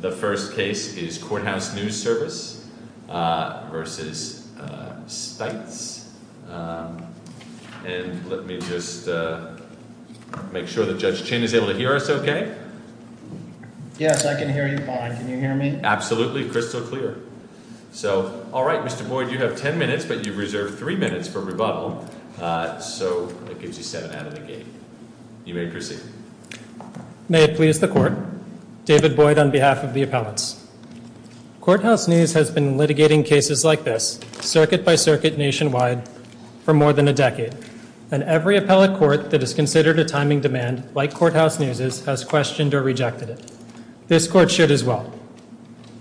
The first case is Courthouse News Service v. Stites. And let me just make sure that Judge Chin is able to hear us okay. Yes, I can hear you fine, can you hear me? Absolutely, crystal clear. So, all right, Mr. Boyd, you have 10 minutes, but you've reserved three minutes for rebuttal, so that gives you seven out of the game. You may proceed. May it please the court, David Boyd on behalf of the appellants. Courthouse News has been litigating cases like this, circuit by circuit nationwide, for more than a decade. And every appellate court that has considered a timing demand like Courthouse News' has questioned or rejected it. This court should as well.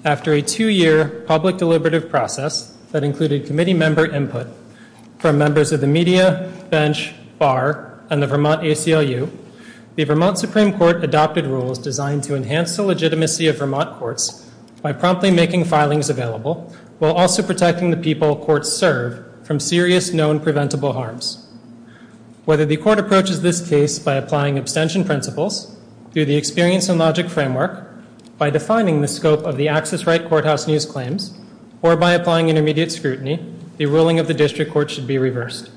After a two-year public deliberative process that included committee member input from members of the media, bench, bar, and the Vermont ACLU, the Vermont Supreme Court adopted rules designed to enhance the legitimacy of Vermont courts by promptly making filings available, while also protecting the people courts serve from serious known preventable harms. Whether the court approaches this case by applying abstention principles, through the experience and logic framework, by defining the scope of the access right Courthouse News claims, or by applying intermediate scrutiny, the ruling of the district court should be reversed.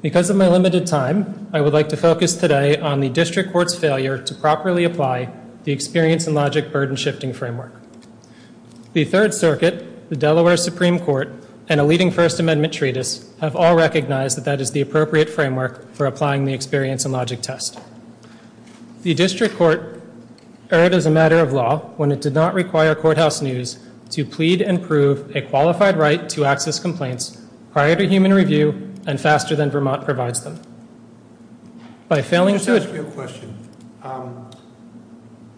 Because of my limited time, I would like to focus today on the district court's failure to properly apply the experience and logic burden shifting framework. The Third Circuit, the Delaware Supreme Court, and a leading First Amendment treatise have all recognized that that is the appropriate framework for applying the experience and logic test. The district court erred as a matter of law when it did not require Courthouse News to plead and prove a qualified right to access complaints prior to human review and faster than Vermont provides them. By failing to- Let me ask you a question.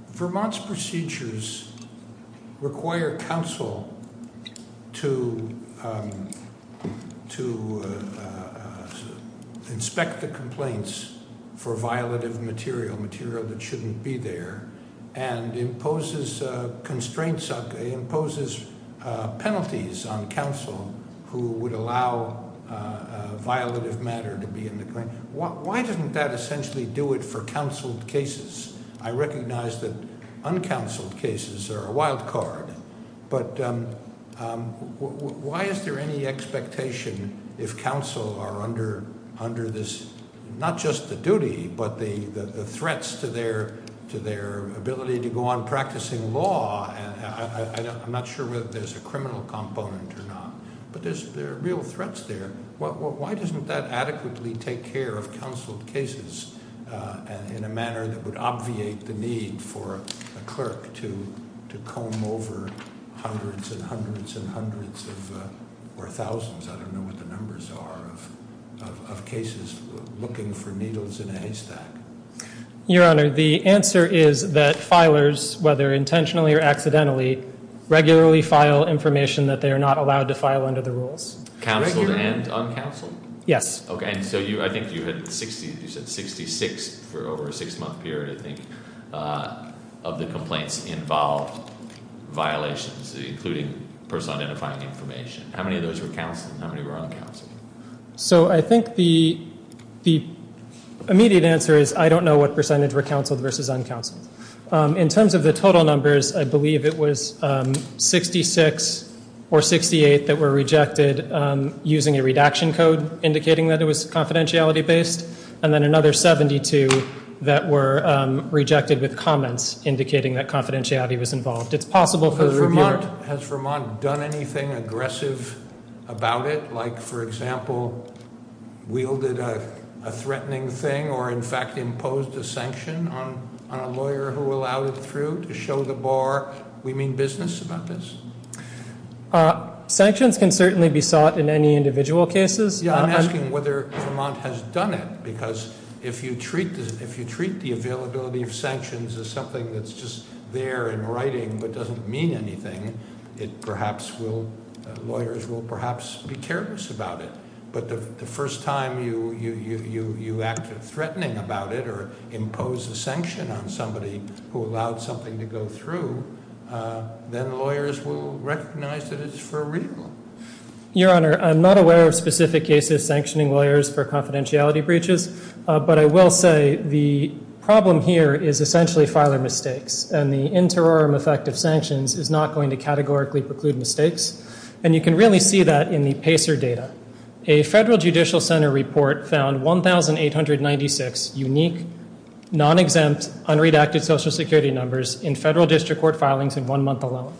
Vermont's procedures require counsel to inspect the complaints for violative material, material that shouldn't be there, and imposes penalties on counsel who would allow violative matter to be in the claim. Why didn't that essentially do it for counseled cases? I recognize that uncounseled cases are a wild card, but why is there any expectation if counsel are under this, not just the duty, but the threats to their ability to go on practicing law? I'm not sure whether there's a criminal component or not, but there are real threats there. Why doesn't that adequately take care of counseled cases in a manner that would obviate the need for a clerk to comb over hundreds and hundreds and hundreds or thousands, I don't know what the numbers are, of cases looking for needles in a haystack? Your Honor, the answer is that filers, whether intentionally or accidentally, regularly file information that they are not allowed to file under the rules. Counseled and uncounseled? Yes. Okay, and so I think you said 66 for over a six month period, I think, of the complaints involved violations, including person identifying information. How many of those were counseled and how many were uncounseled? So I think the immediate answer is I don't know what percentage were counseled versus uncounseled. In terms of the total numbers, I believe it was 66 or 68 that were rejected using a redaction code, indicating that it was confidentiality-based, and then another 72 that were rejected with comments, indicating that confidentiality was involved. It's possible for the reviewer- Has Vermont done anything aggressive about it, like, for example, wielded a threatening thing or, in fact, imposed a sanction on a lawyer who allowed it through to show the bar? We mean business about this? Sanctions can certainly be sought in any individual cases. Yeah, I'm asking whether Vermont has done it, because if you treat the availability of sanctions as something that's just there in writing but doesn't mean anything, lawyers will perhaps be careless about it. But the first time you act threatening about it or impose a sanction on somebody who allowed something to go through, then lawyers will recognize that it's for real. Your Honor, I'm not aware of specific cases sanctioning lawyers for confidentiality breaches, but I will say the problem here is essentially filer mistakes, and the interim effect of sanctions is not going to categorically preclude mistakes, and you can really see that in the PACER data. A federal judicial center report found 1,896 unique, non-exempt, unredacted Social Security numbers in federal district court filings in one month alone.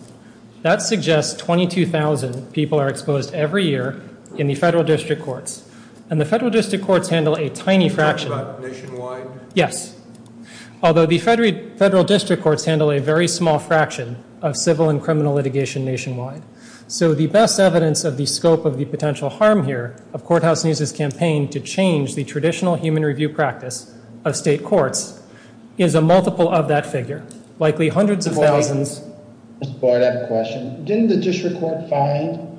That suggests 22,000 people are exposed every year in the federal district courts, and the federal district courts handle a tiny fraction. Talk about nationwide? Yes. Although the federal district courts handle a very small fraction of civil and criminal litigation nationwide. So the best evidence of the scope of the potential harm here of Courthouse News' campaign to change the traditional human review practice of state courts is a multiple of that figure. Likely hundreds of thousands. Mr. Board, I have a question. Didn't the district court find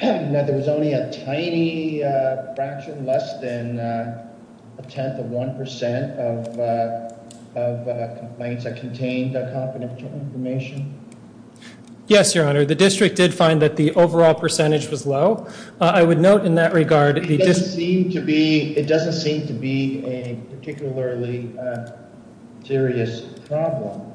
that there was only a tiny fraction, less than a tenth of 1% of complaints that contained confidential information? Yes, Your Honor. The district did find that the overall percentage was low. I would note in that regard, it doesn't seem to be a particularly serious problem.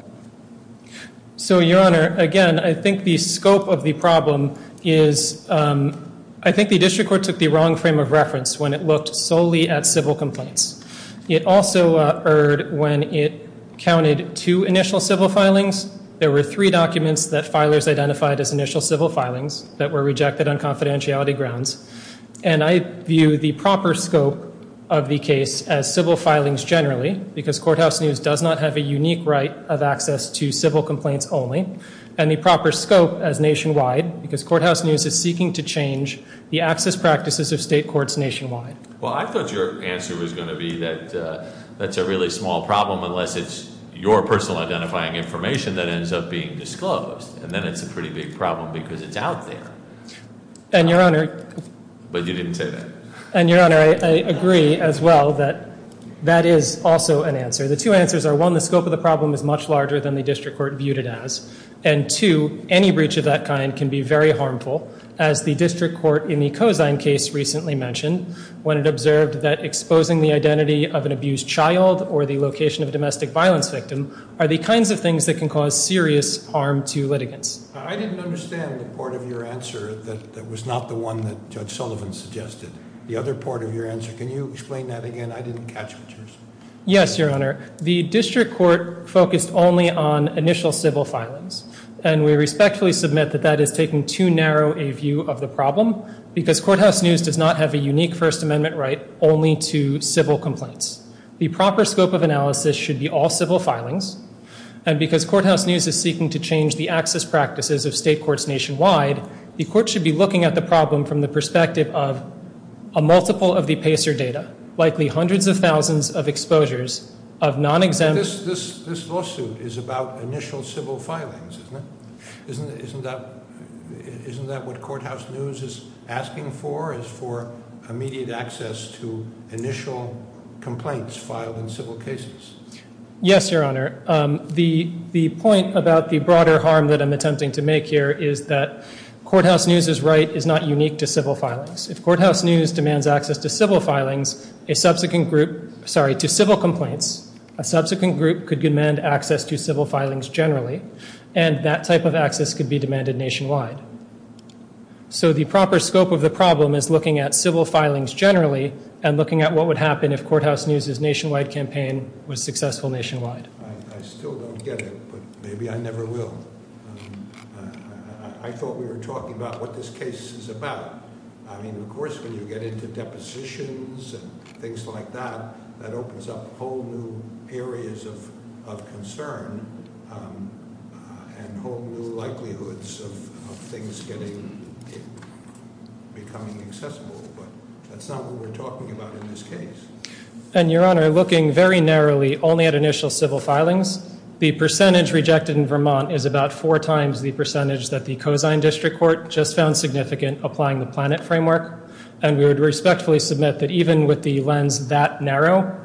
So Your Honor, again, I think the scope of the problem is, I think the district court took the wrong frame of reference when it looked solely at civil complaints. It also erred when it counted two initial civil filings. There were three documents that filers identified as initial civil filings that were rejected on confidentiality grounds. And I view the proper scope of the case as civil filings generally, because Courthouse News does not have a unique right of access to civil complaints only. And the proper scope as nationwide, because Courthouse News is seeking to change the access practices of state courts nationwide. Well, I thought your answer was gonna be that that's a really small problem unless it's your personal identifying information that ends up being disclosed. And then it's a pretty big problem because it's out there. And Your Honor. But you didn't say that. And Your Honor, I agree as well that that is also an answer. The two answers are one, the scope of the problem is much larger than the district court viewed it as. And two, any breach of that kind can be very harmful as the district court in the Cozine case recently mentioned when it observed that exposing the identity of an abused child or the location of a domestic violence victim are the kinds of things that can cause serious harm to litigants. I didn't understand the part of your answer that was not the one that Judge Sullivan suggested. The other part of your answer. Can you explain that again? I didn't catch what you're saying. Yes, Your Honor. The district court focused only on initial civil filings. And we respectfully submit that that is taking too narrow a view of the problem because Courthouse News does not have a unique First Amendment right only to civil complaints. The proper scope of analysis should be all civil filings. And because Courthouse News is seeking to change the access practices of state courts nationwide, the court should be looking at the problem from the perspective of a multiple of the PACER data, likely hundreds of thousands of exposures of non-exempt. This lawsuit is about initial civil filings, isn't it? Isn't that what Courthouse News is asking for is for immediate access to initial complaints filed in civil cases? Yes, Your Honor. The point about the broader harm that I'm attempting to make here is that Courthouse News' right is not unique to civil filings. If Courthouse News demands access to civil filings, a subsequent group, sorry, to civil complaints, a subsequent group could demand access to civil filings generally. And that type of access could be demanded nationwide. So the proper scope of the problem is looking at civil filings generally and looking at what would happen if Courthouse News' nationwide campaign was successful nationwide. I still don't get it, but maybe I never will. I thought we were talking about what this case is about. I mean, of course, when you get into depositions and things like that, that opens up whole new areas of concern and whole new likelihoods of things getting, becoming accessible. But that's not what we're talking about in this case. And Your Honor, looking very narrowly only at initial civil filings, the percentage rejected in Vermont is about four times the percentage that the Cozine District Court just found significant applying the PLANET framework. And we would respectfully submit that even with the lens that narrow,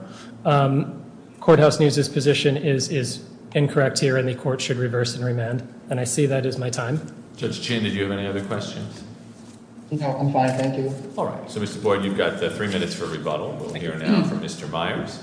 Courthouse News' position is incorrect here and the court should reverse and remand. And I see that as my time. Judge Chin, did you have any other questions? No, I'm fine, thank you. All right, so Mr. Boyd, you've got three minutes for rebuttal. We'll hear now from Mr. Myers.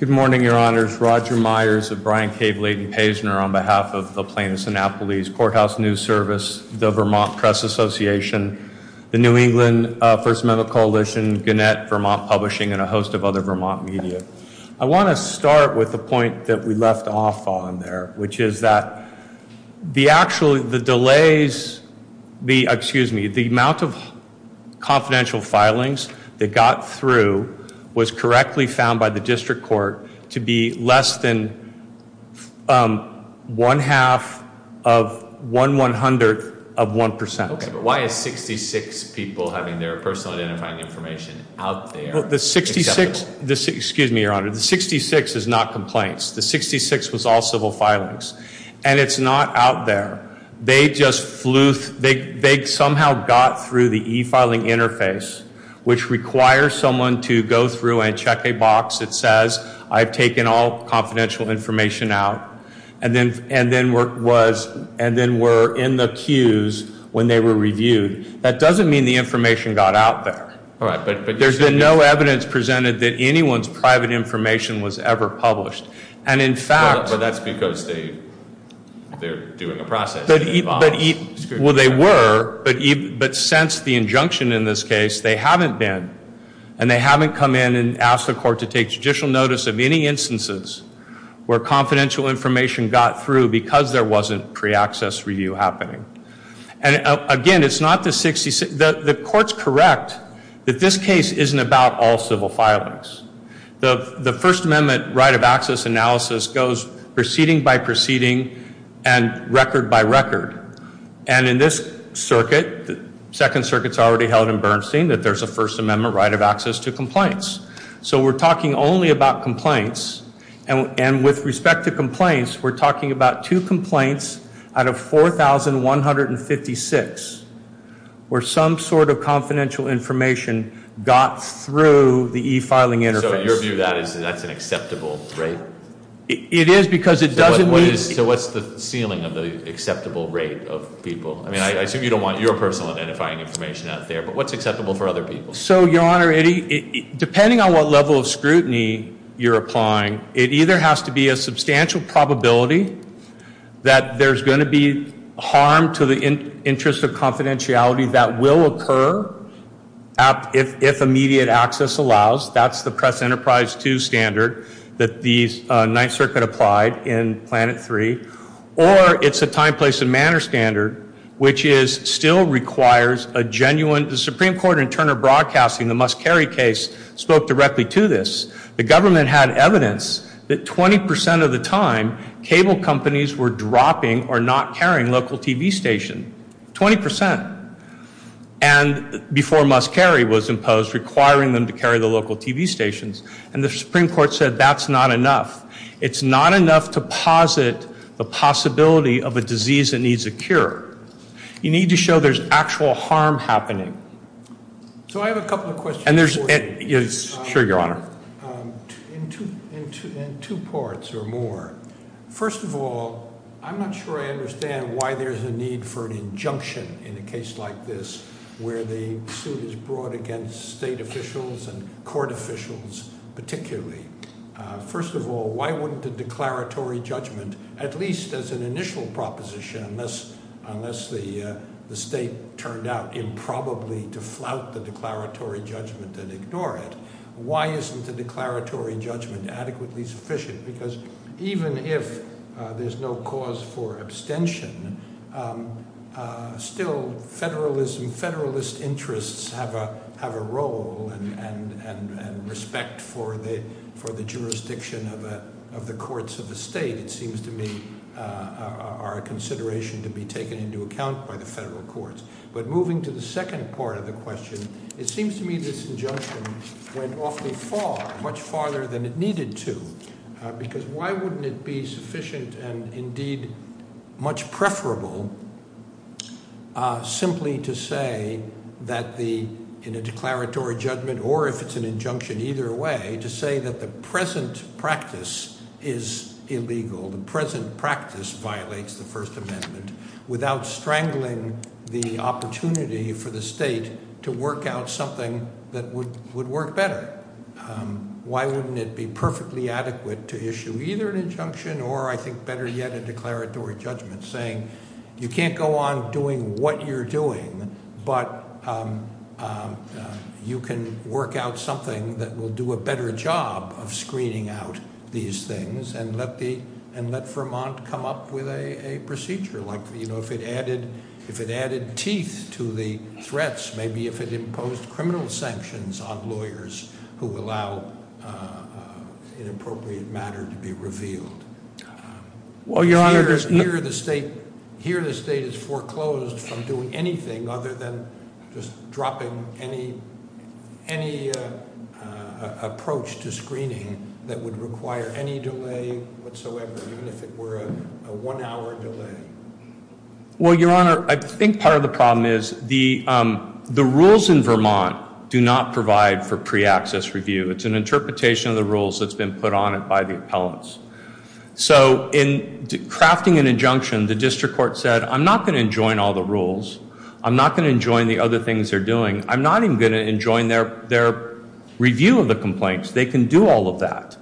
Good morning, Your Honors. Roger Myers of Brian K. Bladen-Paisner on behalf of the Plaintiff's Annapolis Courthouse News Service, the Vermont Press Association, the New England First Amendment Coalition, Gannett, Vermont Publishing, and a host of other Vermont media. I wanna start with the point that we left off on there, which is that the actual, the delays, the, excuse me, the amount of confidential filings that got through was correctly found by the district court to be less than one half of one one hundredth of 1%. Okay, but why is 66 people having their personal identifying information out there? Well, the 66, excuse me, Your Honor, the 66 is not complaints. The 66 was all civil filings. And it's not out there. They just flew, they somehow got through the e-filing interface, which requires someone to go through and check a box that says, I've taken all confidential information out, and then were in the queues when they were reviewed. That doesn't mean the information got out there. All right, but you're saying. There's been no evidence presented that anyone's private information was ever published. And in fact. But that's because they, they're doing a process. Well, they were, but since the injunction in this case, they haven't been. And they haven't come in and asked the court to take judicial notice of any instances where confidential information got through because there wasn't pre-access review happening. And again, it's not the 66, the court's correct that this case isn't about all civil filings. The First Amendment right of access analysis goes proceeding by proceeding and record by record. And in this circuit, the Second Circuit's already held in Bernstein that there's a First Amendment right of access to complaints. So we're talking only about complaints. And with respect to complaints, we're talking about two complaints out of 4,156 where some sort of confidential information got through the e-filing interface. So your view of that is that's an acceptable rate? It is because it doesn't mean. So what's the ceiling of the acceptable rate of people? I mean, I assume you don't want your personal identifying information out there, but what's acceptable for other people? So, Your Honor, depending on what level of scrutiny you're applying, it either has to be a substantial probability that there's gonna be harm to the interest of confidentiality that will occur if immediate access allows. That's the Press Enterprise 2 standard that the Ninth Circuit applied in Planet 3. Or it's a time, place, and manner standard, which still requires a genuine, the Supreme Court in Turner Broadcasting, the must-carry case, spoke directly to this. The government had evidence that 20% of the time, cable companies were dropping or not carrying local TV station, 20%. And before must-carry was imposed, requiring them to carry the local TV stations. And the Supreme Court said that's not enough. It's not enough to posit the possibility of a disease that needs a cure. You need to show there's actual harm happening. So I have a couple of questions. And there's, yes, sure, Your Honor. In two parts or more. First of all, I'm not sure I understand why there's a need for an injunction in a case like this where the suit is brought against state officials and court officials particularly. First of all, why wouldn't a declaratory judgment, at least as an initial proposition, unless the state turned out improbably to flout the declaratory judgment and ignore it, why isn't the declaratory judgment adequately sufficient? Because even if there's no cause for abstention, still federalism, federalist interests have a role and respect for the jurisdiction of the courts of the state it seems to me are a consideration to be taken into account by the federal courts. But moving to the second part of the question, it seems to me this injunction went off the fall much farther than it needed to because why wouldn't it be sufficient and indeed much preferable simply to say that in a declaratory judgment or if it's an injunction either way to say that the present practice is illegal, the present practice violates the First Amendment without strangling the opportunity for the state to work out something that would work better? Why wouldn't it be perfectly adequate to issue either an injunction or I think better yet a declaratory judgment saying you can't go on doing what you're doing but you can work out something that will do a better job of screening out these things and let Vermont come up with a procedure like if it added teeth to the threats maybe if it imposed criminal sanctions on lawyers who allow inappropriate matter to be revealed? Well, Your Honor, there's no... Here the state is foreclosed from doing anything other than just dropping any approach to screening that would require any delay whatsoever even if it were a one hour delay. Well, Your Honor, I think part of the problem is the rules in Vermont do not provide for pre-access review. It's an interpretation of the rules that's been put on it by the appellants. So in crafting an injunction, the district court said I'm not gonna enjoin all the rules. I'm not gonna enjoin the other things they're doing. I'm not even gonna enjoin their review of the complaints. They can do all of that.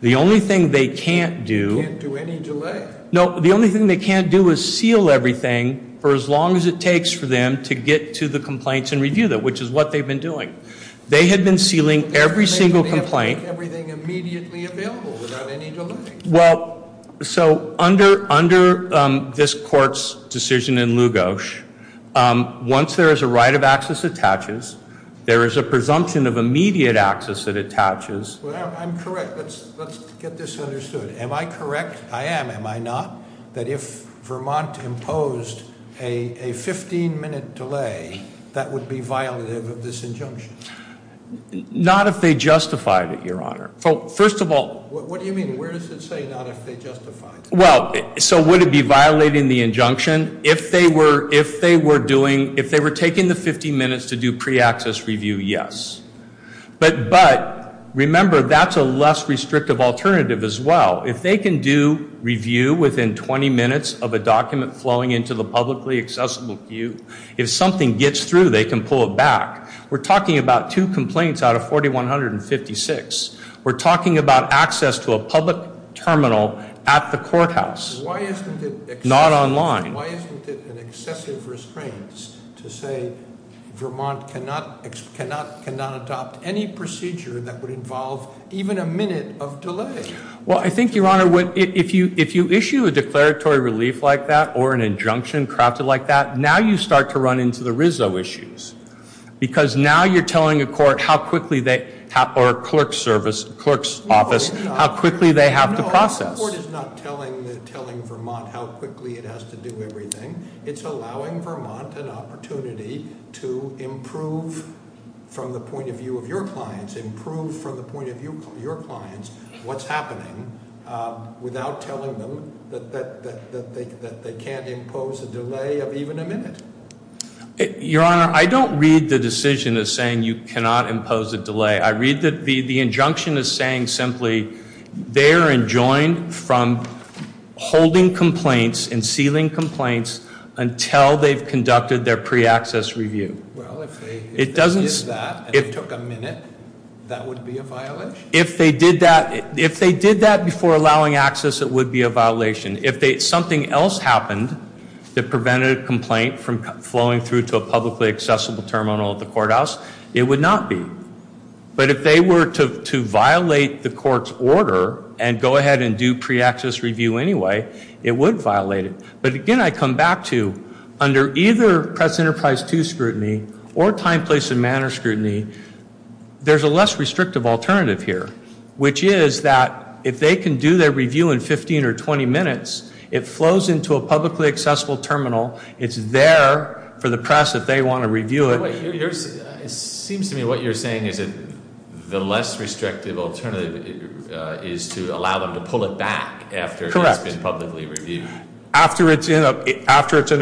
The only thing they can't do... Can't do any delay. No, the only thing they can't do is seal everything for as long as it takes for them to get to the complaints and review them which is what they've been doing. They had been sealing every single complaint. Everything immediately available without any delay. Well, so under this court's decision in Lugos, once there is a right of access attaches, there is a presumption of immediate access that attaches. I'm correct. Let's get this understood. Am I correct? I am, am I not? That if Vermont imposed a 15 minute delay, that would be violative of this injunction? Not if they justified it, your honor. First of all... What do you mean? Where does it say not if they justified it? Well, so would it be violating the injunction? If they were doing... If they were taking the 15 minutes to do pre-access review, yes. But remember, that's a less restrictive alternative as well. If they can do review within 20 minutes of a document flowing into the publicly accessible queue, if something gets through, they can pull it back. We're talking about two complaints out of 4,156. We're talking about access to a public terminal at the courthouse, not online. Why isn't it an excessive restraints to say Vermont cannot adopt any procedure that would involve even a minute of delay? Well, I think, your honor, if you issue a declaratory relief like that or an injunction crafted like that, now you start to run into the Rizzo issues. Because now you're telling a court how quickly they have, or a clerk's service, clerk's office, how quickly they have to process. No, the court is not telling Vermont how quickly it has to do everything. It's allowing Vermont an opportunity to improve from the point of view of your clients, improve from the point of view of your clients what's happening without telling them that they can't impose a delay of even a minute. Your honor, I don't read the decision as saying you cannot impose a delay. I read that the injunction is saying simply, they're enjoined from holding complaints and sealing complaints until they've conducted their pre-access review. Well, if they did that and it took a minute, that would be a violation? If they did that before allowing access, it would be a violation. If something else happened that prevented a complaint from flowing through to a publicly accessible terminal at the courthouse, it would not be. But if they were to violate the court's order and go ahead and do pre-access review anyway, it would violate it. But again, I come back to, under either Press Enterprise 2 scrutiny or time, place, and manner scrutiny, there's a less restrictive alternative here, which is that if they can do their review in 15 or 20 minutes, it flows into a publicly accessible terminal. It's there for the press if they want to review it. It seems to me what you're saying is that the less restrictive alternative is to allow them to pull it back after it's been publicly reviewed. After it's in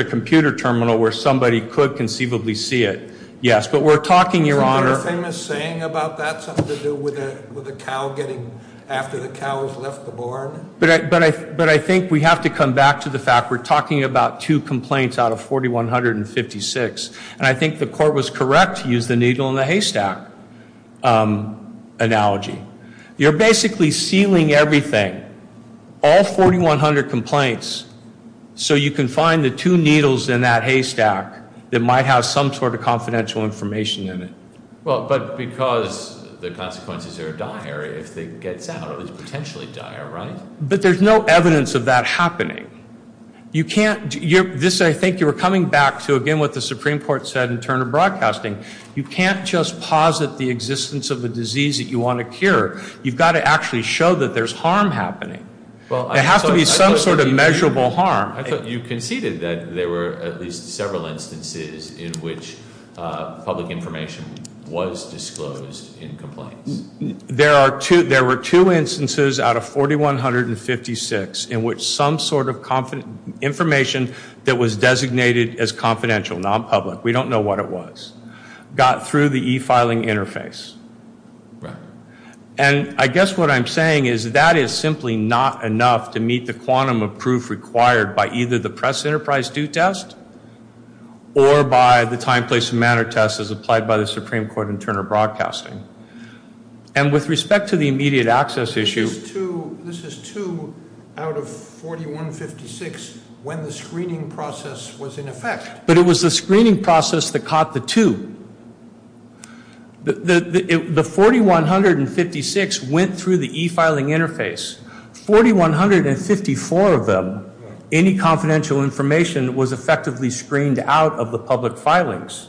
a computer terminal where somebody could conceivably see it, yes. But we're talking, Your Honor. Is there a famous saying about that, something to do with a cow getting, after the cow has left the barn? But I think we have to come back to the fact we're talking about two complaints out of 4,156. And I think the court was correct to use the needle in the haystack analogy. You're basically sealing everything, all 4,100 complaints, so you can find the two needles in that haystack that might have some sort of confidential information in it. Well, but because the consequences are dire if it gets out, it's potentially dire, right? But there's no evidence of that happening. This, I think you were coming back to, again, what the Supreme Court said in Turner Broadcasting. You can't just posit the existence of a disease that you want to cure. You've got to actually show that there's harm happening. There has to be some sort of measurable harm. I thought you conceded that there were at least several instances in which public information was disclosed in complaints. There were two instances out of 4,156 in which some sort of information that was designated as confidential, non-public, we don't know what it was, got through the e-filing interface. And I guess what I'm saying is that is simply not enough to meet the quantum of proof required by either the press enterprise due test or by the time, place, and manner test as applied by the Supreme Court in Turner Broadcasting. And with respect to the immediate access issue. This is two out of 4,156 when the screening process was in effect. But it was the screening process that caught the two. The 4,156 went through the e-filing interface. 4,154 of them, any confidential information was effectively screened out of the public filings.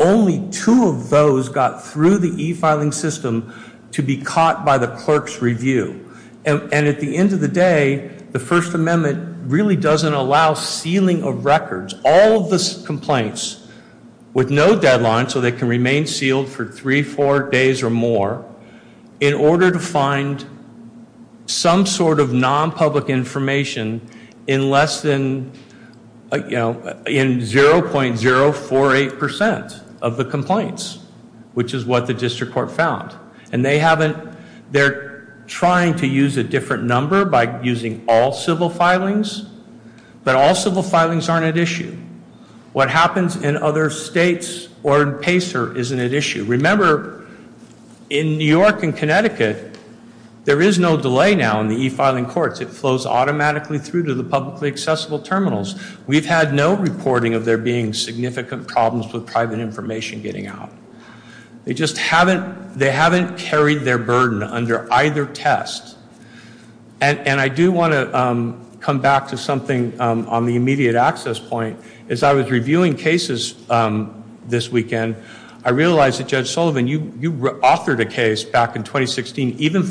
Only two of those got through the e-filing system to be caught by the clerk's review. And at the end of the day, the First Amendment really doesn't allow sealing of records. All of the complaints with no deadline so they can remain sealed for three, four days or more in order to find some sort of non-public information in less than, you know, in 0.048% of the complaints, which is what the district court found. And they haven't, they're trying to use a different number by using all civil filings. But all civil filings aren't at issue. What happens in other states or in Pacer isn't at issue. Remember, in New York and Connecticut, there is no delay now in the e-filing courts. It flows automatically through to the publicly accessible terminals. We've had no reporting of there being significant problems with private information getting out. They just haven't, they haven't carried their burden under either test. And I do want to come back to something on the immediate access point. As I was reviewing cases this weekend, I realized that Judge Sullivan, you authored a case back in 2016, even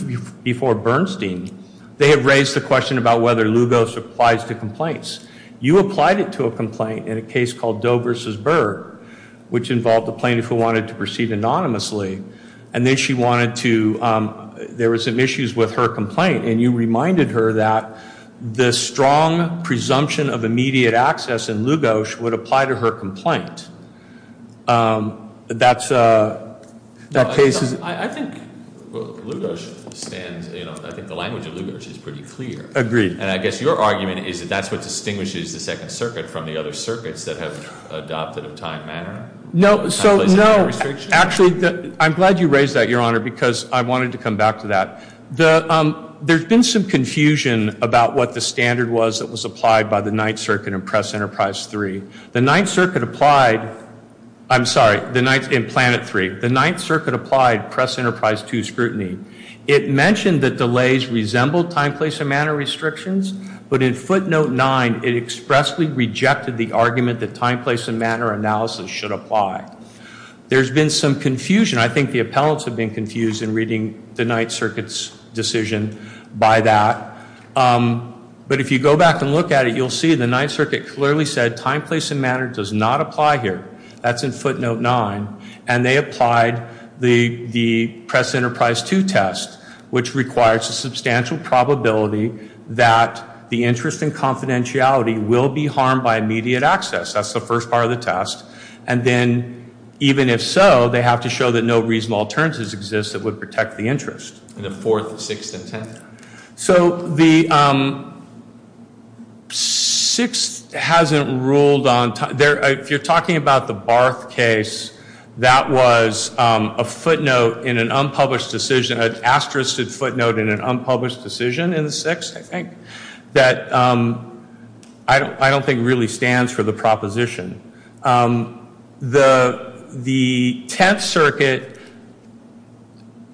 before Bernstein. They had raised the question about whether Lugos applies to complaints. You applied it to a complaint in a case called Doe versus Berg, which involved a plaintiff who wanted to proceed anonymously and then she wanted to, there was some issues with her complaint and you reminded her that the strong presumption of immediate access in Lugos would apply to her complaint. That's a, that case is- I think Lugos stands, I think the language of Lugos is pretty clear. Agreed. And I guess your argument is that that's what distinguishes the Second Circuit from the other circuits that have adopted a time manner. No, so no, actually, I'm glad you raised that, Your Honor, because I wanted to come back to that. There's been some confusion about what the standard was that was applied by the Ninth Circuit in Press Enterprise 3. The Ninth Circuit applied, I'm sorry, in Planet 3. The Ninth Circuit applied Press Enterprise 2 scrutiny. It mentioned that delays resembled time, place, and manner restrictions, but in Footnote 9, it expressly rejected the argument that time, place, and manner analysis should apply. There's been some confusion. I think the appellants have been confused in reading the Ninth Circuit's decision by that. But if you go back and look at it, you'll see the Ninth Circuit clearly said time, place, and manner does not apply here. That's in Footnote 9. And they applied the Press Enterprise 2 test, which requires a substantial probability that the interest and confidentiality will be harmed by immediate access. That's the first part of the test. And then, even if so, they have to show that no reasonable alternatives exist that would protect the interest. And the fourth, sixth, and tenth. So the sixth hasn't ruled on, if you're talking about the Barth case, that was a footnote in an unpublished decision, an asterisked footnote in an unpublished decision in the sixth, I think, that I don't think really stands for the proposition. The Tenth Circuit,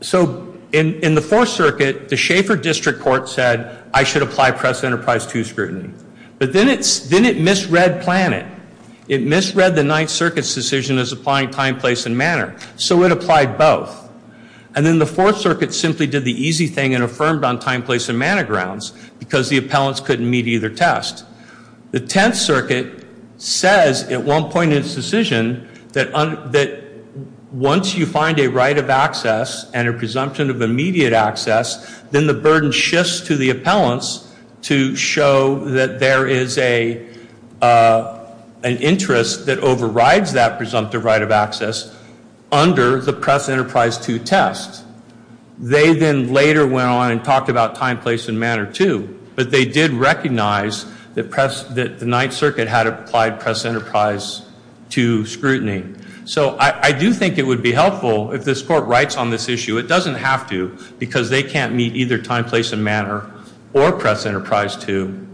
so in the Fourth Circuit, the Schaeffer District Court said I should apply Press Enterprise 2 scrutiny. But then it misread Planet. It misread the Ninth Circuit's decision as applying time, place, and manner. So it applied both. And then the Fourth Circuit simply did the easy thing and affirmed on time, place, and manner grounds because the appellants couldn't meet either test. The Tenth Circuit says at one point in its decision that once you find a right of access and a presumption of immediate access, then the burden shifts to the appellants to show that there is an interest that overrides that presumptive right of access under the Press Enterprise 2 test. They then later went on and talked about time, place, and manner too. But they did recognize that the Ninth Circuit had applied Press Enterprise 2 scrutiny. So I do think it would be helpful if this court writes on this issue. It doesn't have to because they can't meet either time, place, and manner or Press Enterprise 2.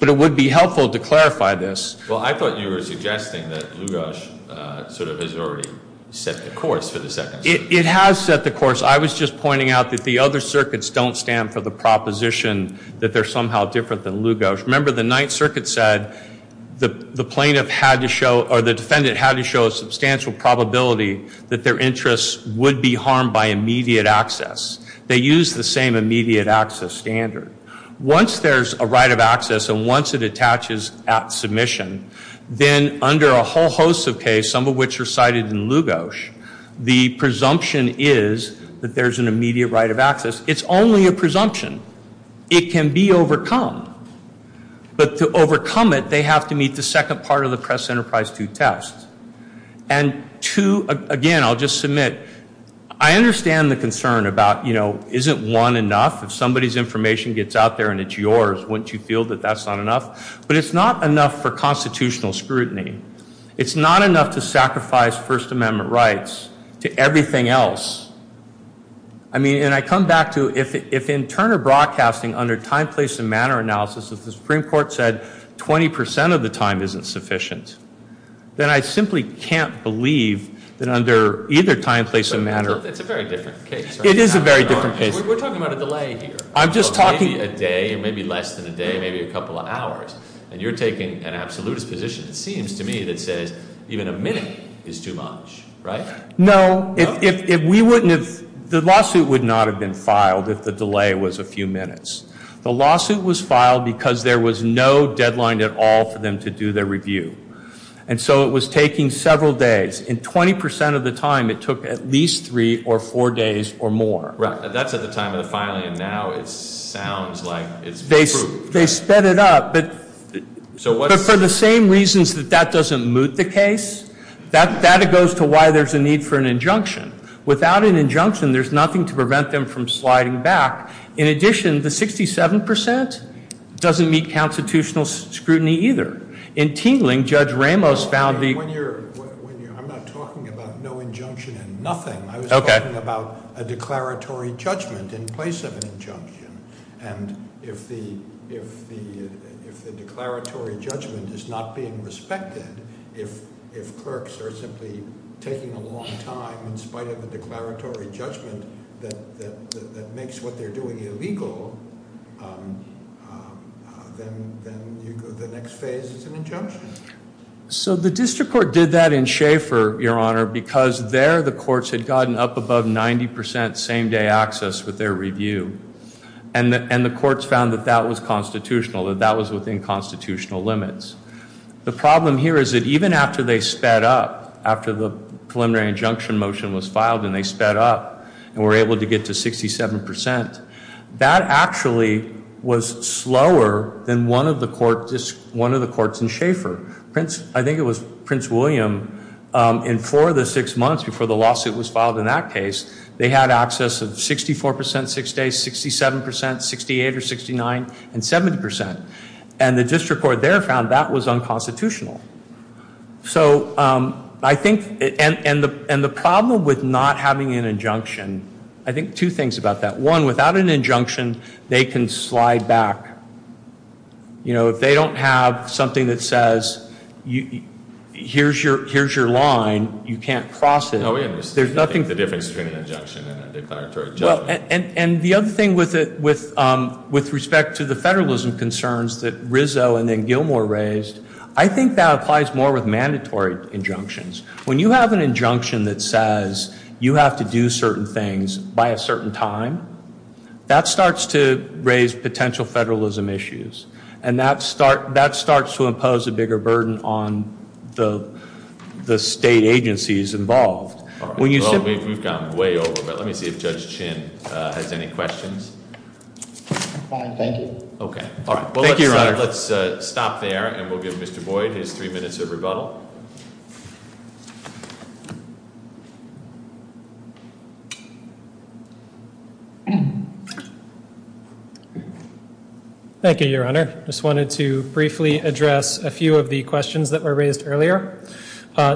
But it would be helpful to clarify this. Well, I thought you were suggesting that Lugosz sort of has already set the course for the Second Circuit. It has set the course. I was just pointing out that the other circuits don't stand for the proposition that they're somehow different than Lugosz. Remember, the Ninth Circuit said the defendant had to show a substantial probability that their interests would be harmed by immediate access. They use the same immediate access standard. Once there's a right of access and once it attaches at submission, then under a whole host of case, some of which are cited in Lugosz, the presumption is that there's an immediate right of access. It's only a presumption. It can be overcome. But to overcome it, they have to meet the second part of the Press Enterprise 2 test. And to, again, I'll just submit, I understand the concern about, you know, isn't one enough? If somebody's information gets out there and it's yours, wouldn't you feel that that's not enough? But it's not enough for constitutional scrutiny. It's not enough to sacrifice First Amendment rights to everything else. I mean, and I come back to if in Turner Broadcasting, under time, place, and manner analysis, if the Supreme Court said 20% of the time isn't sufficient, then I simply can't believe that under either time, place, and manner. It's a very different case. It is a very different case. We're talking about a delay here. I'm just talking. Maybe a day, maybe less than a day, maybe a couple of hours. And you're taking an absolutist position, it seems to me, that says even a minute is too much, right? No, if we wouldn't have, the lawsuit would not have been filed if the delay was a few minutes. The lawsuit was filed because there was no deadline at all for them to do their review. And so it was taking several days. And 20% of the time, it took at least three or four days or more. That's at the time of the filing. And now it sounds like it's proved. They sped it up. But for the same reasons that that doesn't moot the case, that goes to why there's a need for an injunction. Without an injunction, there's nothing to prevent them from sliding back. In addition, the 67% doesn't meet constitutional scrutiny either. In Tingling, Judge Ramos found the- When you're, I'm not talking about no injunction and nothing. I was talking about a declaratory judgment in place of an injunction. And if the declaratory judgment is not being respected, if clerks are simply taking a long time in spite of a declaratory judgment that makes what they're doing illegal, then the next phase is an injunction. So the district court did that in Schaefer, Your Honor, because there, the courts had gotten up above 90% same-day access with their review. And the courts found that that was constitutional, that that was within constitutional limits. The problem here is that even after they sped up, after the preliminary injunction motion was filed and they sped up and were able to get to 67%, that actually was slower than one of the courts, one of the courts in Schaefer. I think it was Prince William, in four of the six months before the lawsuit was filed in that case, they had access of 64% six days, 67%, 68 or 69, and 70%. And the district court there found that was unconstitutional. So I think, and the problem with not having an injunction, I think two things about that. One, without an injunction, they can slide back. You know, if they don't have something that says here's your line, you can't cross it. There's nothing. The difference between an injunction and a declaratory judgment. And the other thing with respect to the federalism concerns that Rizzo and then Gilmour raised, I think that applies more with mandatory injunctions. When you have an injunction that says you have to do certain things by a certain time, that starts to raise potential federalism issues. And that starts to impose a bigger burden on the state agencies involved. When you simply- Well, we've gone way over, but let me see if Judge Chin has any questions. I'm fine, thank you. Okay. Thank you, Your Honor. Let's stop there and we'll give Mr. Boyd his three minutes of rebuttal. Thank you, Your Honor. Just wanted to briefly address a few of the questions that were raised earlier.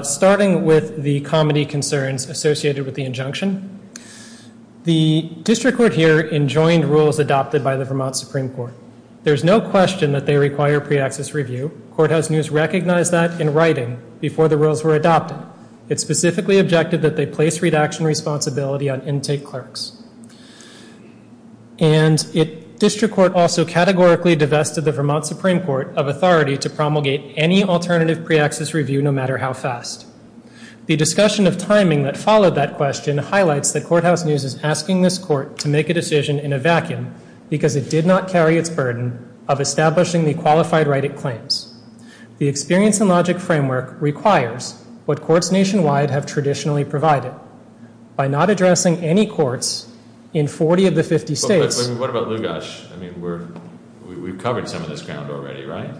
Starting with the comedy concerns associated with the injunction. The district court here enjoined rules adopted by the Vermont Supreme Court. There's no question that they require pre-access review. Courthouse News recognized that in writing before the rules were adopted. It specifically objected that they place redaction responsibility on intake clerks. And district court also categorically divested the Vermont Supreme Court of authority to promulgate any alternative pre-access review no matter how fast. The discussion of timing that followed that question highlights that Courthouse News is asking this court to make a decision in a vacuum because it did not carry its burden of establishing the qualified right it claims. The experience and logic framework requires what courts nationwide have traditionally provided. By not addressing any courts in 40 of the 50 states. What about Lugash? I mean, we've covered some of this ground already, right?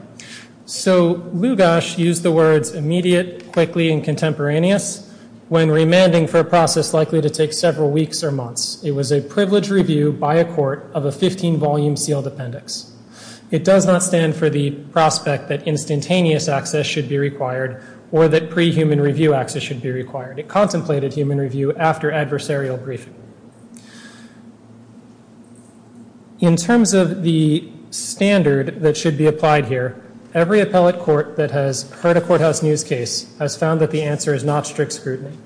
So Lugash used the words immediate, quickly, and contemporaneous when remanding for a process likely to take several weeks or months. It was a privileged review by a court of a 15 volume sealed appendix. It does not stand for the prospect that instantaneous access should be required or that pre-human review access should be required. It contemplated human review after adversarial briefing. In terms of the standard that should be applied here, every appellate court that has heard a Courthouse News case has found that the answer is not strict scrutiny.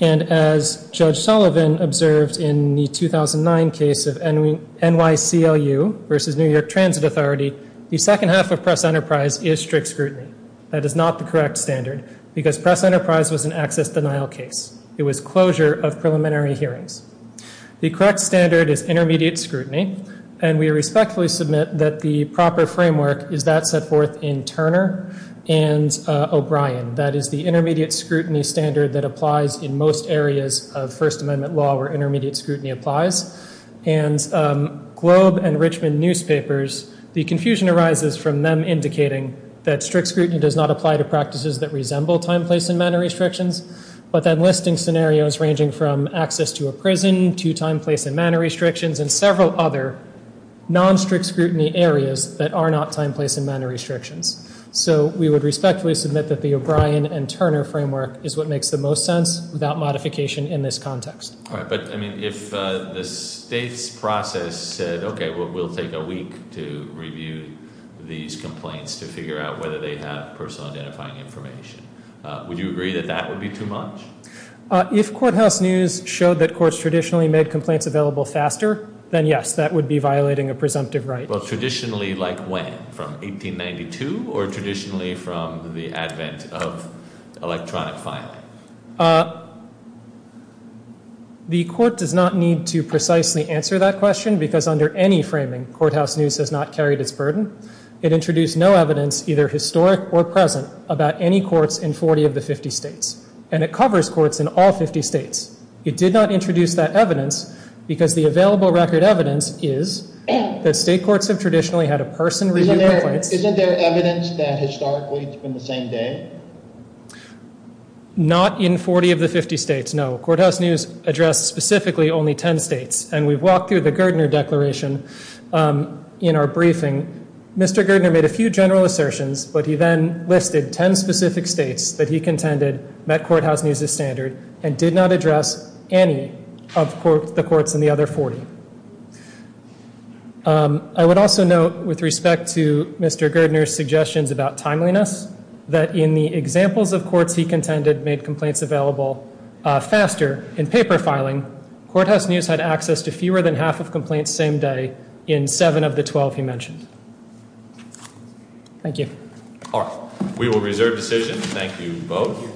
And as Judge Sullivan observed in the 2009 case of NYCLU versus New York Transit Authority, the second half of Press Enterprise is strict scrutiny. That is not the correct standard because Press Enterprise was an access denial case. It was closure of preliminary hearings. The correct standard is intermediate scrutiny and we respectfully submit that the proper framework is that set forth in Turner and O'Brien. That is the intermediate scrutiny standard that applies in most areas of First Amendment law where intermediate scrutiny applies. And Globe and Richmond newspapers, the confusion arises from them indicating that strict scrutiny does not apply to practices that resemble time, place, and manner restrictions, but that listing scenarios ranging from access to a prison to time, place, and manner restrictions and several other non-strict scrutiny areas that are not time, place, and manner restrictions. So we would respectfully submit that the O'Brien and Turner framework is what makes the most sense without modification in this context. All right, but I mean, if the state's process said, okay, we'll take a week to review these complaints to figure out whether they have personal identifying information, would you agree that that would be too much? If courthouse news showed that courts traditionally made complaints available faster, then yes, that would be violating a presumptive right. Well, traditionally, like when? From 1892 or traditionally from the advent of electronic filing. The court does not need to precisely answer that question because under any framing, courthouse news has not carried its burden. It introduced no evidence, either historic or present, about any courts in 40 of the 50 states, and it covers courts in all 50 states. It did not introduce that evidence because the available record evidence is that state courts have traditionally had a person review complaints. Isn't there evidence that historically it's been the same day? Not in 40 of the 50 states, no. Courthouse news addressed specifically only 10 states, and we've walked through the Girdner Declaration in our briefing. Mr. Girdner made a few general assertions, but he then listed 10 specific states that he contended met courthouse news' standard and did not address any of the courts in the other 40. I would also note, with respect to Mr. Girdner's suggestions about timeliness, that in the examples of courts he contended made complaints available faster in paper filing, courthouse news had access to fewer than half of complaints same day in seven of the 12 he mentioned. Thank you. All right, we will reserve decision. Thank you both.